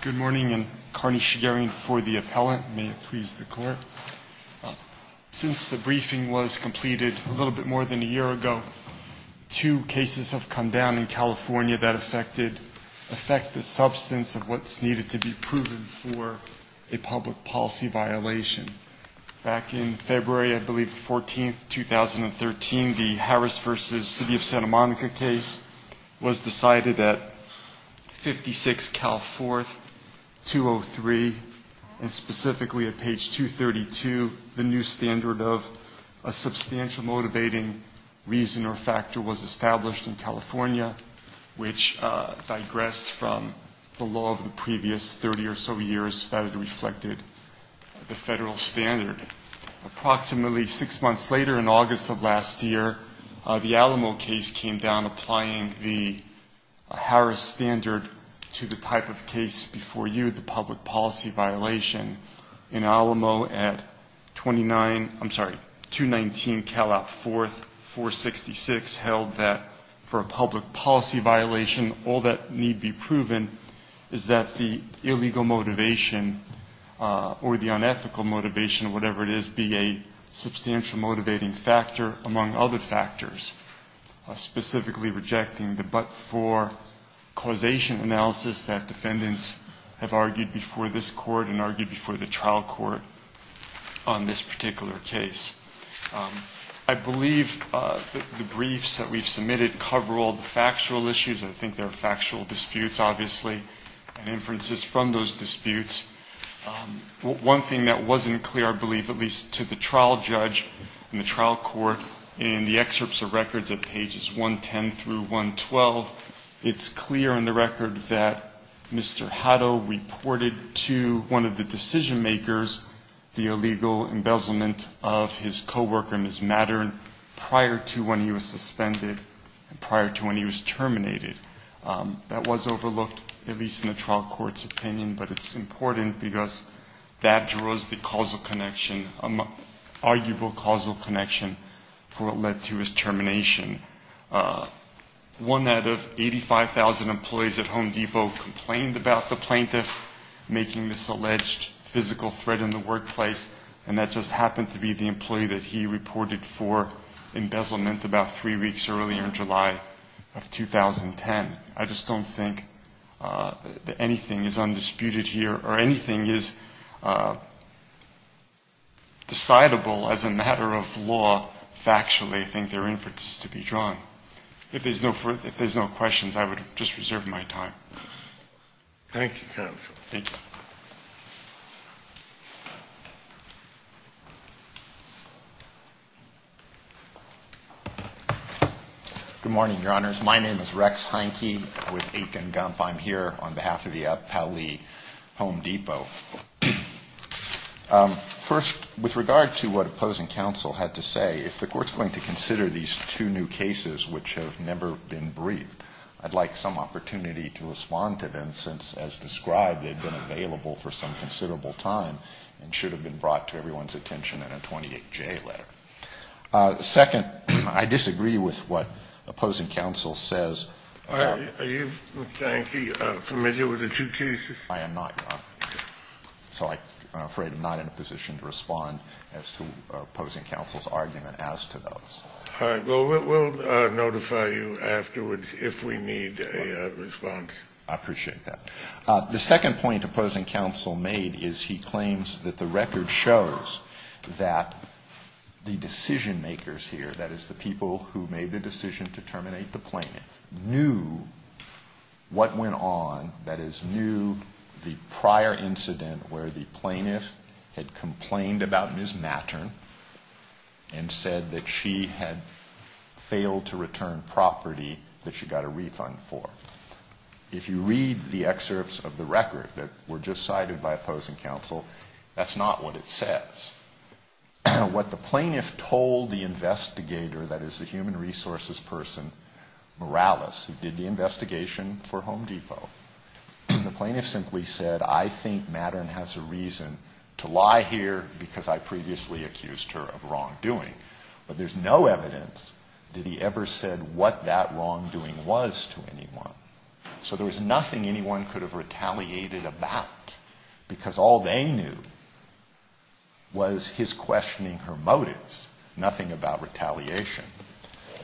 Good morning and Karni Shigerian for the appellant. May it please the court. Since the briefing was completed a little bit more than a year ago, two cases have come down in California that affect the substance of what's needed to be proven for a public policy violation. Back in February, I believe the 14th, 2013, the Harris v. City of Santa Monica case was decided at 56 Cal 4th, 203, and specifically at page 232, the new standard of a substantial motivating reason or factor was established in California, which digressed from the law of the previous 30 or so years that had reflected the federal standard. Approximately six months later, in August of last year, the Alamo case came down applying the Harris standard to the type of case before you, the public policy violation. In Alamo at 29, I'm sorry, 219 Calop 4th, 466 held that for a public policy violation, all that the illegal motivation or the unethical motivation, whatever it is, be a substantial motivating factor among other factors, specifically rejecting the but for causation analysis that defendants have argued before this court and argued before the trial court on this particular case. I believe the briefs that we've submitted cover all the factual issues. I think there is from those disputes. One thing that wasn't clear, I believe, at least to the trial judge and the trial court in the excerpts of records at pages 110 through 112, it's clear in the record that Mr. Hutto reported to one of the decision makers the illegal embezzlement of his coworker, Ms. Mattern, prior to when he was suspended and prior to when he was terminated. That was overlooked, at least in the trial court's opinion, but it's important because that draws the causal connection, arguable causal connection for what led to his termination. One out of 85,000 employees at Home Depot complained about the plaintiff making this alleged physical threat in the workplace, and that just happened to be the employee that he reported for embezzlement about three weeks earlier in July of 2010. I just don't think that anything is undisputed here or anything is decidable as a matter of law factually. I think there are inferences to be drawn. If there's no further, if there's no questions, I would just reserve my time. Thank you, Counsel. Thank you. Good morning, Your Honors. My name is Rex Heineke with Aiken Gump. I'm here on behalf of the Appellee Home Depot. First, with regard to what opposing counsel had to say, if the court's going to consider these two new cases which have never been briefed, I'd like some response to them since, as described, they've been available for some considerable time and should have been brought to everyone's attention in a 28J letter. Second, I disagree with what opposing counsel says. Are you, Mr. Heineke, familiar with the two cases? I am not, Your Honor. So I'm afraid I'm not in a position to respond as to opposing counsel's argument as to those. All right. Well, we'll notify you afterwards if we need a response. I appreciate that. The second point opposing counsel made is he claims that the record shows that the decision-makers here, that is, the people who made the decision to terminate the plaintiff, knew what went on, that is, knew the prior incident where the plaintiff had complained about Ms. Mattern and said that she had failed to return property that she got a refund for. If you read the excerpts of the record that were just cited by opposing counsel, that's not what it says. What the plaintiff told the investigator, that is, the human resources person, Morales, who did the investigation for Home Depot, the plaintiff simply said, I think Mattern has a reason to lie here because I previously accused her of wrongdoing. But there's no evidence that he ever said what that wrongdoing was to anyone. So there was nothing anyone could have retaliated about, because all they knew was his questioning her motives, nothing about retaliation.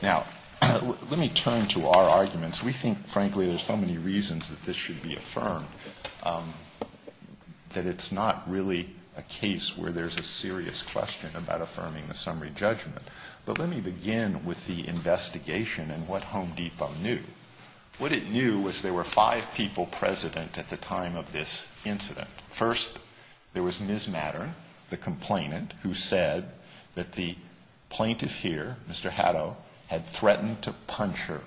Now, let me turn to our arguments. We think, frankly, there's so many reasons that this should be affirmed, that it's not really a case where there's a serious question about affirming the summary judgment. But let me begin with the investigation and what Home Depot knew. What it knew was there were five people president at the time of this incident. First, there was Ms. Mattern, the complainant, who said that the plaintiff here, Mr. Puncher,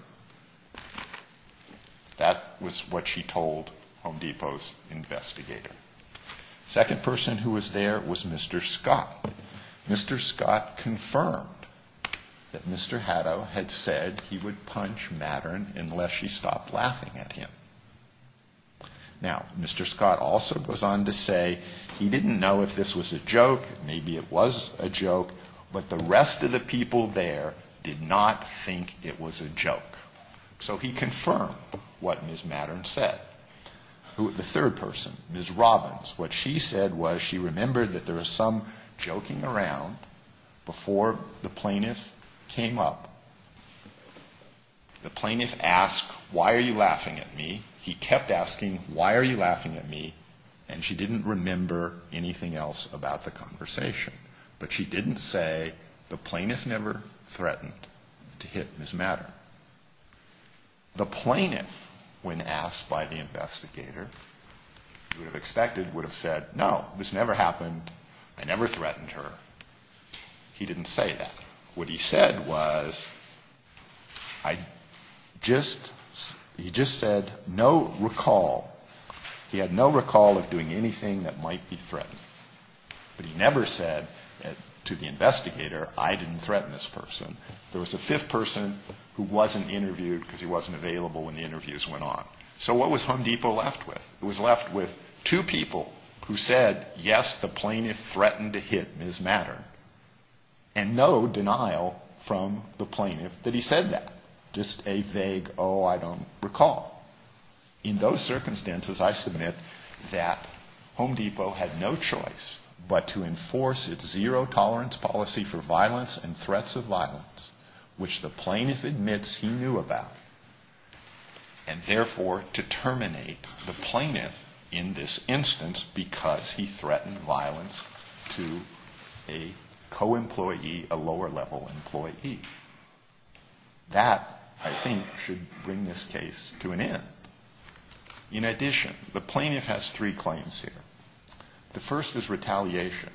that was what she told Home Depot's investigator. The second person who was there was Mr. Scott. Mr. Scott confirmed that Mr. Hatto had said he would punch Mattern unless she stopped laughing at him. Now, Mr. Scott also goes on to say he didn't know if this was a joke, maybe it was a joke, but the rest of the people there did not think it was a joke. So he confirmed what Ms. Mattern said. The third person, Ms. Robbins, what she said was she remembered that there was some joking around before the plaintiff came up. The plaintiff asked, why are you laughing at me? He kept asking, why are you laughing at me? And she didn't remember anything else about the conversation. But she didn't say the plaintiff never threatened to hit Ms. Mattern. The plaintiff, when asked by the investigator, would have expected, would have said, no, this never happened, I never threatened her. He didn't say that. What he said was, I just, he just said no recall. He had no recall of doing anything that might be threatening. But he never said to the investigator, I didn't threaten this person. There was a fifth person who wasn't interviewed because he wasn't available when the interviews went on. So what was Home Depot left with? It was left with two people who said, yes, the plaintiff threatened to hit Ms. Mattern. And no denial from the plaintiff that he said that. Just a vague, oh, I don't recall. In those circumstances, I submit that Home Depot had no choice but to enforce its zero tolerance policy for violence and threats of violence, which the plaintiff admits he knew about, and therefore to terminate the plaintiff in this instance because he threatened violence to a co-employee, a lower level employee. That, I think, should bring this case to an end. In addition, the plaintiff has three claims here. The first is retaliation.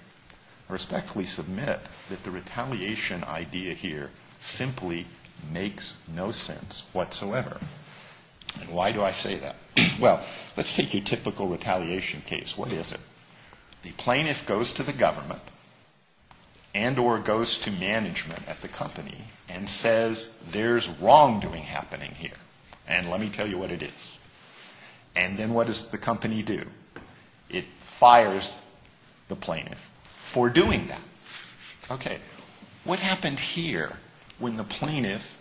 I respectfully submit that the retaliation idea here simply makes no sense whatsoever. And why do I say that? Well, let's take your typical retaliation case. What is it? The plaintiff goes to the government and or goes to management at the company and says, there's wrongdoing happening here, and let me tell you what it is. And then what does the company do? It fires the plaintiff for doing that. Okay. What happened here when the plaintiff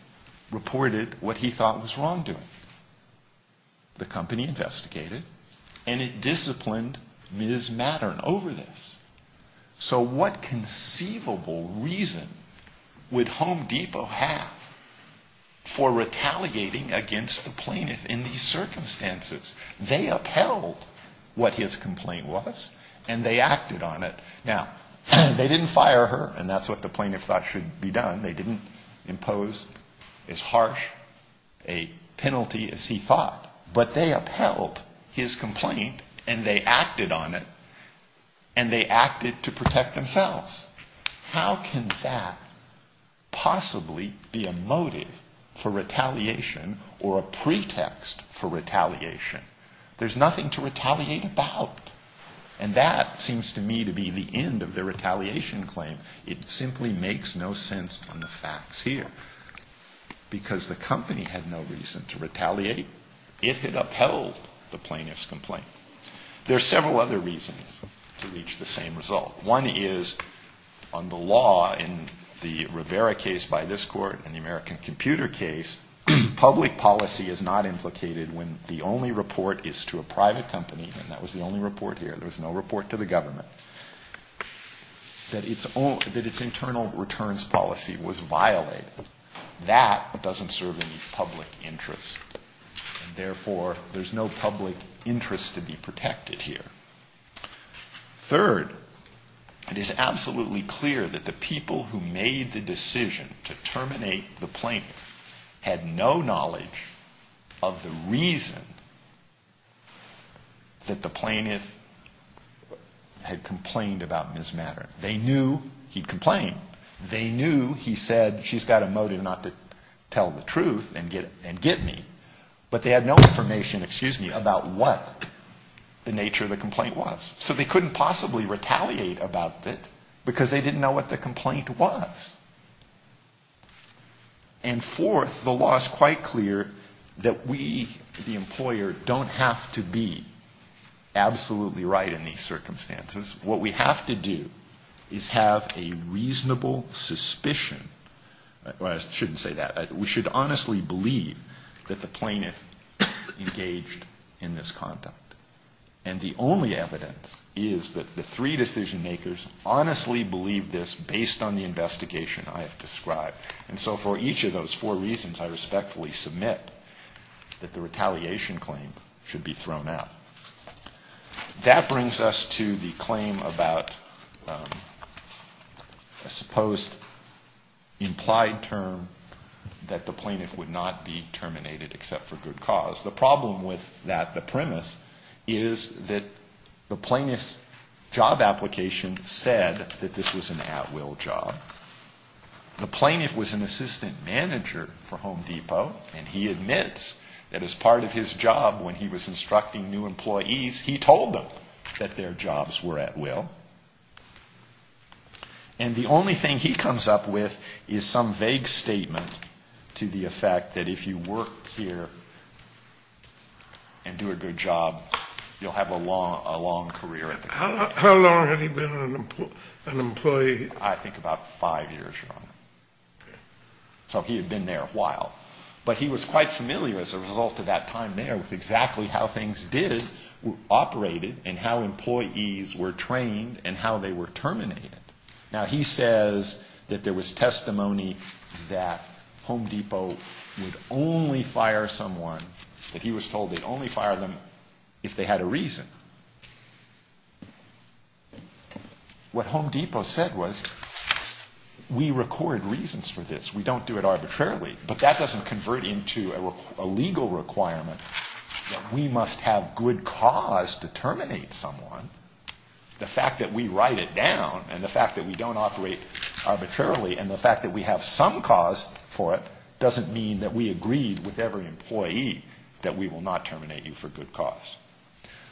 reported what he thought was wrongdoing? The company investigated, and it disciplined Ms. Mattern over this. So what conceivable reason would Home Depot have for retaliating against the plaintiff in these circumstances? They upheld what his complaint was, and they acted on it. Now, they didn't fire her, and that's what the plaintiff thought should be done. They didn't impose as harsh a penalty as he thought. But they upheld his complaint, and they acted on it, and they acted to protect themselves. How can that possibly be a motive for retaliation or a pretext for retaliation? There's nothing to retaliate about. And that seems to me to be the end of the retaliation claim. It simply makes no sense on the facts here because the company had no reason to retaliate. It had upheld the plaintiff's complaint. There are several other reasons to reach the same result. One is on the law in the Rivera case by this court and the American Computer case, public policy is not implicated when the only report is to a private company, and that was the only report here. There was no report to the government. That its internal returns policy was violated, that doesn't serve any public interest, and therefore there's no public interest to be protected here. Third, it is absolutely clear that the people who made the decision to terminate the plaintiff had no knowledge of the reason that the plaintiff had complained about mismanagement. They knew he'd complained. They knew he said she's got a motive not to tell the truth and get me, but they had no information about what the nature of the complaint was. So they couldn't possibly retaliate about it because they didn't know what the complaint was. And fourth, the law is quite clear that we, the employer, don't have to be absolutely right in these circumstances. What we have to do is have a reasonable suspicion. I shouldn't say that. We should honestly believe that the plaintiff engaged in this conduct, and the only evidence is that the three decision-makers honestly believed this based on the investigation I have described. And so for each of those four reasons, I respectfully submit that the retaliation claim should be thrown out. That brings us to the claim about a supposed implied term that the plaintiff would not be terminated except for good cause. The problem with that premise is that the plaintiff's job application said that this was an at-will job. The plaintiff was an assistant manager for Home Depot, and he admits that as part of his job when he was instructing new employees, he told them that their jobs were at will. And the only thing he comes up with is some vague statement to the effect that if you work here and do a good job, you'll have a long career at the company. How long had he been an employee? I think about five years, Your Honor. Okay. So he had been there a while. But he was quite familiar as a result of that time there with exactly how things did, were operated, and how employees were trained and how they were terminated. Now, he says that there was testimony that Home Depot would only fire someone, that he was told they'd only fire them if they had a reason. What Home Depot said was, we record reasons for this. We don't do it arbitrarily. But that doesn't convert into a legal requirement that we must have good cause to terminate someone. The fact that we write it down and the fact that we don't operate arbitrarily and the fact that we have some cause for it doesn't mean that we agreed with every employee that we will not terminate you for good cause.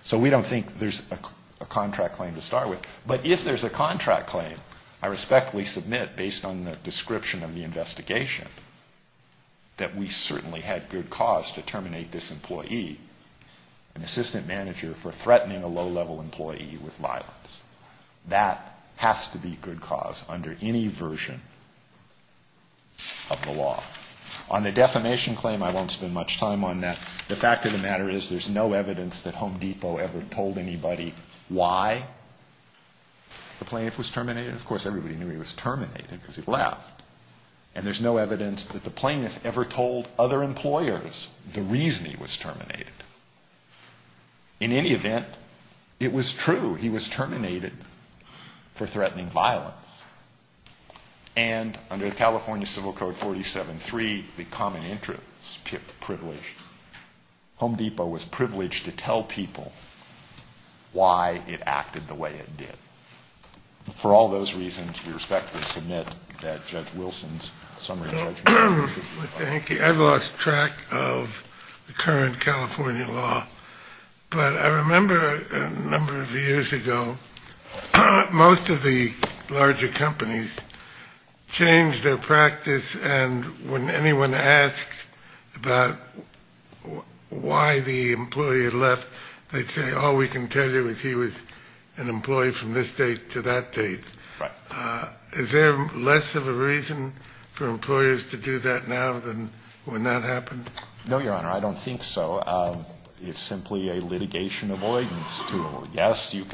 So we don't think there's a contract claim to start with. But if there's a contract claim, I respectfully submit, based on the description of the investigation, an assistant manager for threatening a low-level employee with violence. That has to be good cause under any version of the law. On the defamation claim, I won't spend much time on that. The fact of the matter is there's no evidence that Home Depot ever told anybody why the plaintiff was terminated. Of course, everybody knew he was terminated because he left. And there's no evidence that the plaintiff ever told other employers the reason he was terminated. In any event, it was true. He was terminated for threatening violence. And under California Civil Code 47.3, the common interest privilege, Home Depot was privileged to tell people why it acted the way it did. For all those reasons, we respectfully submit that Judge Wilson's summary judgment. Thank you. I've lost track of the current California law. But I remember a number of years ago, most of the larger companies changed their practice, and when anyone asked about why the employee had left, they'd say all we can tell you is he was an employee from this date to that date. Is there less of a reason for employers to do that now than when that happened? No, Your Honor, I don't think so. It's simply a litigation avoidance tool. Yes, you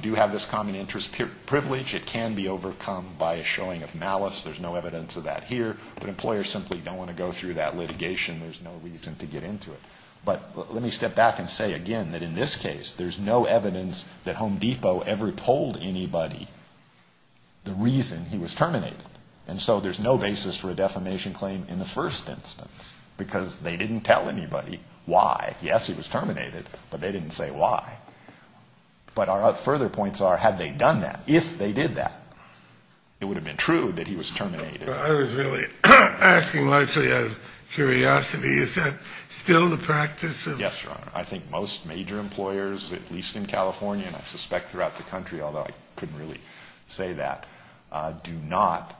do have this common interest privilege. It can be overcome by a showing of malice. There's no evidence of that here. But employers simply don't want to go through that litigation. There's no reason to get into it. But let me step back and say again that in this case, there's no evidence that Home Depot ever told anybody the reason he was terminated. And so there's no basis for a defamation claim in the first instance, because they didn't tell anybody why. Yes, he was terminated, but they didn't say why. But our further points are, had they done that, if they did that, it would have been true that he was terminated. I was really asking largely out of curiosity, is that still the practice? Yes, Your Honor. I think most major employers, at least in California, and I suspect throughout the country, although I couldn't really say that, do not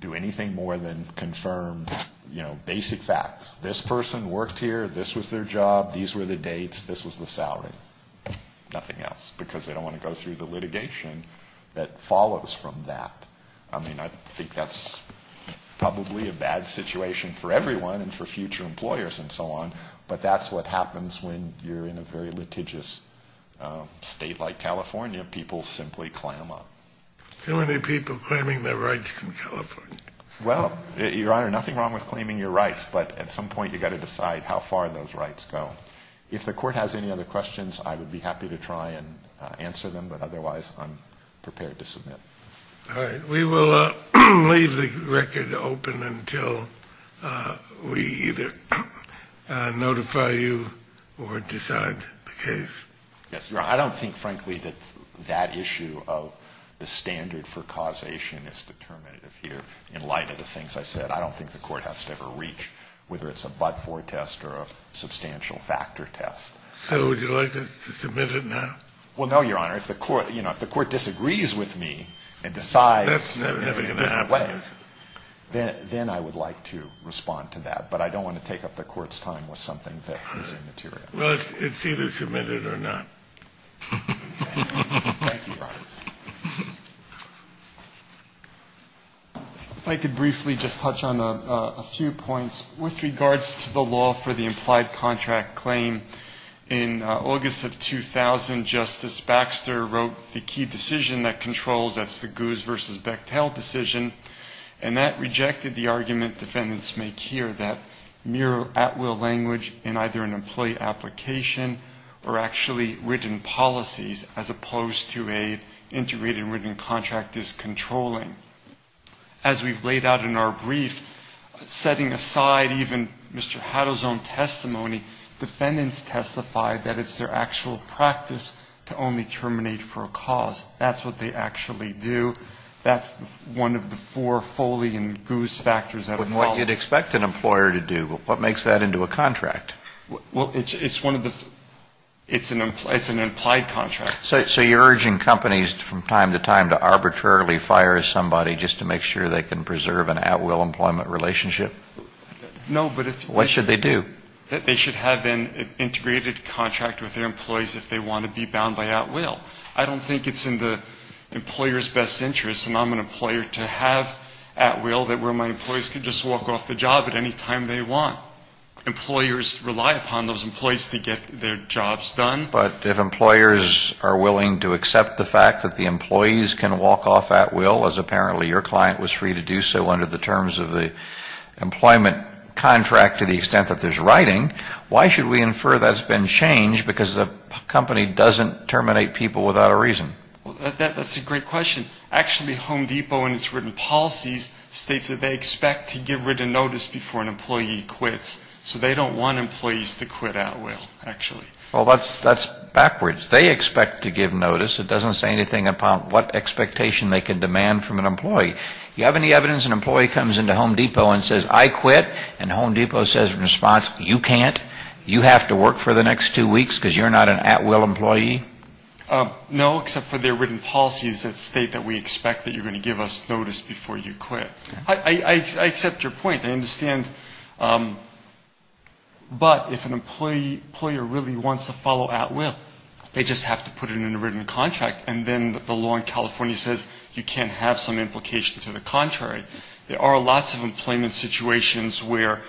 do anything more than confirm, you know, basic facts. This person worked here. This was their job. These were the dates. This was the salary. Nothing else, because they don't want to go through the litigation that follows from that. I mean, I think that's probably a bad situation for everyone and for future employers and so on, but that's what happens when you're in a very litigious state like California. People simply clam up. Too many people claiming their rights in California. Well, Your Honor, nothing wrong with claiming your rights, but at some point you've got to decide how far those rights go. If the Court has any other questions, I would be happy to try and answer them, but otherwise I'm prepared to submit. All right. We will leave the record open until we either notify you or decide the case. Yes, Your Honor. I don't think, frankly, that that issue of the standard for causation is determinative here. In light of the things I said, I don't think the Court has to ever reach, whether it's a but-for test or a substantial factor test. So would you like us to submit it now? Well, no, Your Honor. If the Court disagrees with me and decides in a different way, then I would like to respond to that, but I don't want to take up the Court's time with something that isn't material. Well, it's either submitted or not. Thank you, Your Honor. If I could briefly just touch on a few points. With regards to the law for the implied contract claim, in August of 2000 Justice Baxter wrote the key decision that controls, that's the Goose v. Bechtel decision, and that rejected the argument defendants make here that mere at-will language in either an employee application or actually written policies, as opposed to an integrated written contract, is controlling. As we've laid out in our brief, setting aside even Mr. Haddo's own testimony, defendants testify that it's their actual practice to only terminate for a cause. That's what they actually do. That's one of the four Foley and Goose factors that are followed. But what you'd expect an employer to do, what makes that into a contract? Well, it's one of the, it's an implied contract. So you're urging companies from time to time to arbitrarily fire somebody just to make sure they can preserve an at-will employment relationship? No. What should they do? They should have an integrated contract with their employees if they want to be bound by at-will. I don't think it's in the employer's best interest, and I'm an employer, to have at-will where my employees can just walk off the job at any time they want. Employers rely upon those employees to get their jobs done. But if employers are willing to accept the fact that the employees can walk off at-will, as apparently your client was free to do so under the terms of the employment contract to the extent that there's writing, why should we infer that's been changed because the company doesn't terminate people without a reason? That's a great question. Actually, Home Depot in its written policies states that they expect to get rid of notice before an employee quits. So they don't want employees to quit at-will, actually. Well, that's backwards. They expect to give notice. It doesn't say anything about what expectation they can demand from an employee. Do you have any evidence an employee comes into Home Depot and says, I quit, and Home Depot says in response, you can't? You have to work for the next two weeks because you're not an at-will employee? No, except for their written policies that state that we expect that you're going to give us notice before you quit. I accept your point. I understand. But if an employer really wants to follow at-will, they just have to put it in a written contract, and then the law in California says you can't have some implication to the contrary. There are lots of employment situations where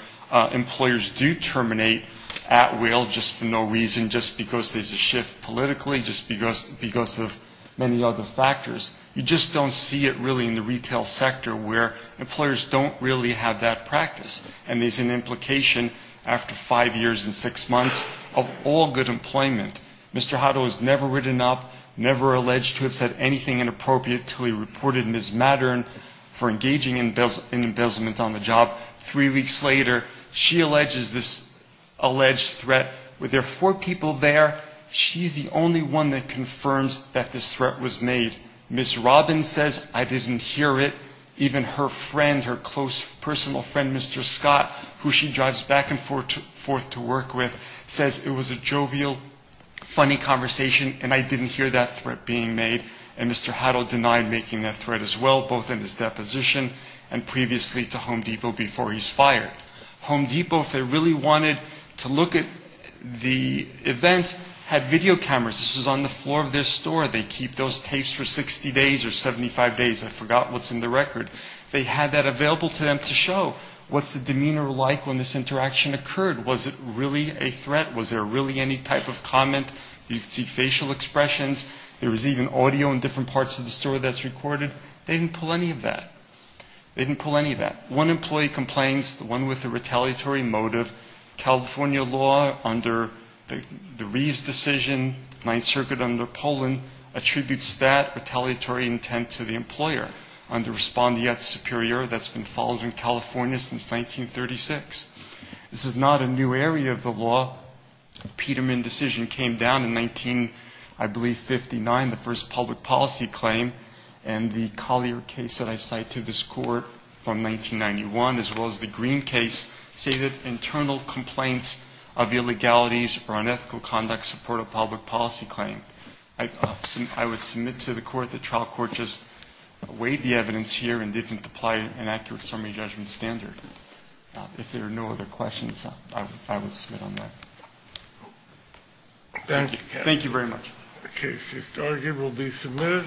employers do terminate at-will just for no reason, just because there's a shift politically, just because of many other factors. You just don't see it really in the retail sector where employers don't really have that practice, and there's an implication after five years and six months of all good employment. Mr. Hutto has never written up, never alleged to have said anything inappropriate until he reported Ms. Mattern for engaging in embezzlement on the job. Three weeks later, she alleges this alleged threat. Were there four people there? She's the only one that confirms that this threat was made. Ms. Robbins says, I didn't hear it. Even her friend, her close personal friend, Mr. Scott, who she drives back and forth to work with, says it was a jovial, funny conversation, and I didn't hear that threat being made. And Mr. Hutto denied making that threat as well, both in his deposition and previously to Home Depot before he's fired. Home Depot, if they really wanted to look at the events, had video cameras. This was on the floor of their store. They keep those tapes for 60 days or 75 days. I forgot what's in the record. They had that available to them to show what's the demeanor like when this interaction occurred. Was it really a threat? Was there really any type of comment? You could see facial expressions. There was even audio in different parts of the store that's recorded. They didn't pull any of that. They didn't pull any of that. One employee complains, the one with the retaliatory motive, California law under the Reeves decision, Ninth Circuit under Poland, attributes that retaliatory intent to the employer under respondeat superior that's been followed in California since 1936. This is not a new area of the law. The Peterman decision came down in 19, I believe, 59, the first public policy claim, and the Collier case that I cite to this court from 1991, as well as the Green case say that internal complaints of illegalities or unethical conduct support a public policy claim. I would submit to the court that trial court just weighed the evidence here and didn't apply an accurate summary judgment standard. If there are no other questions, I would submit on that. Thank you. Thank you very much. The case is started. It will be submitted.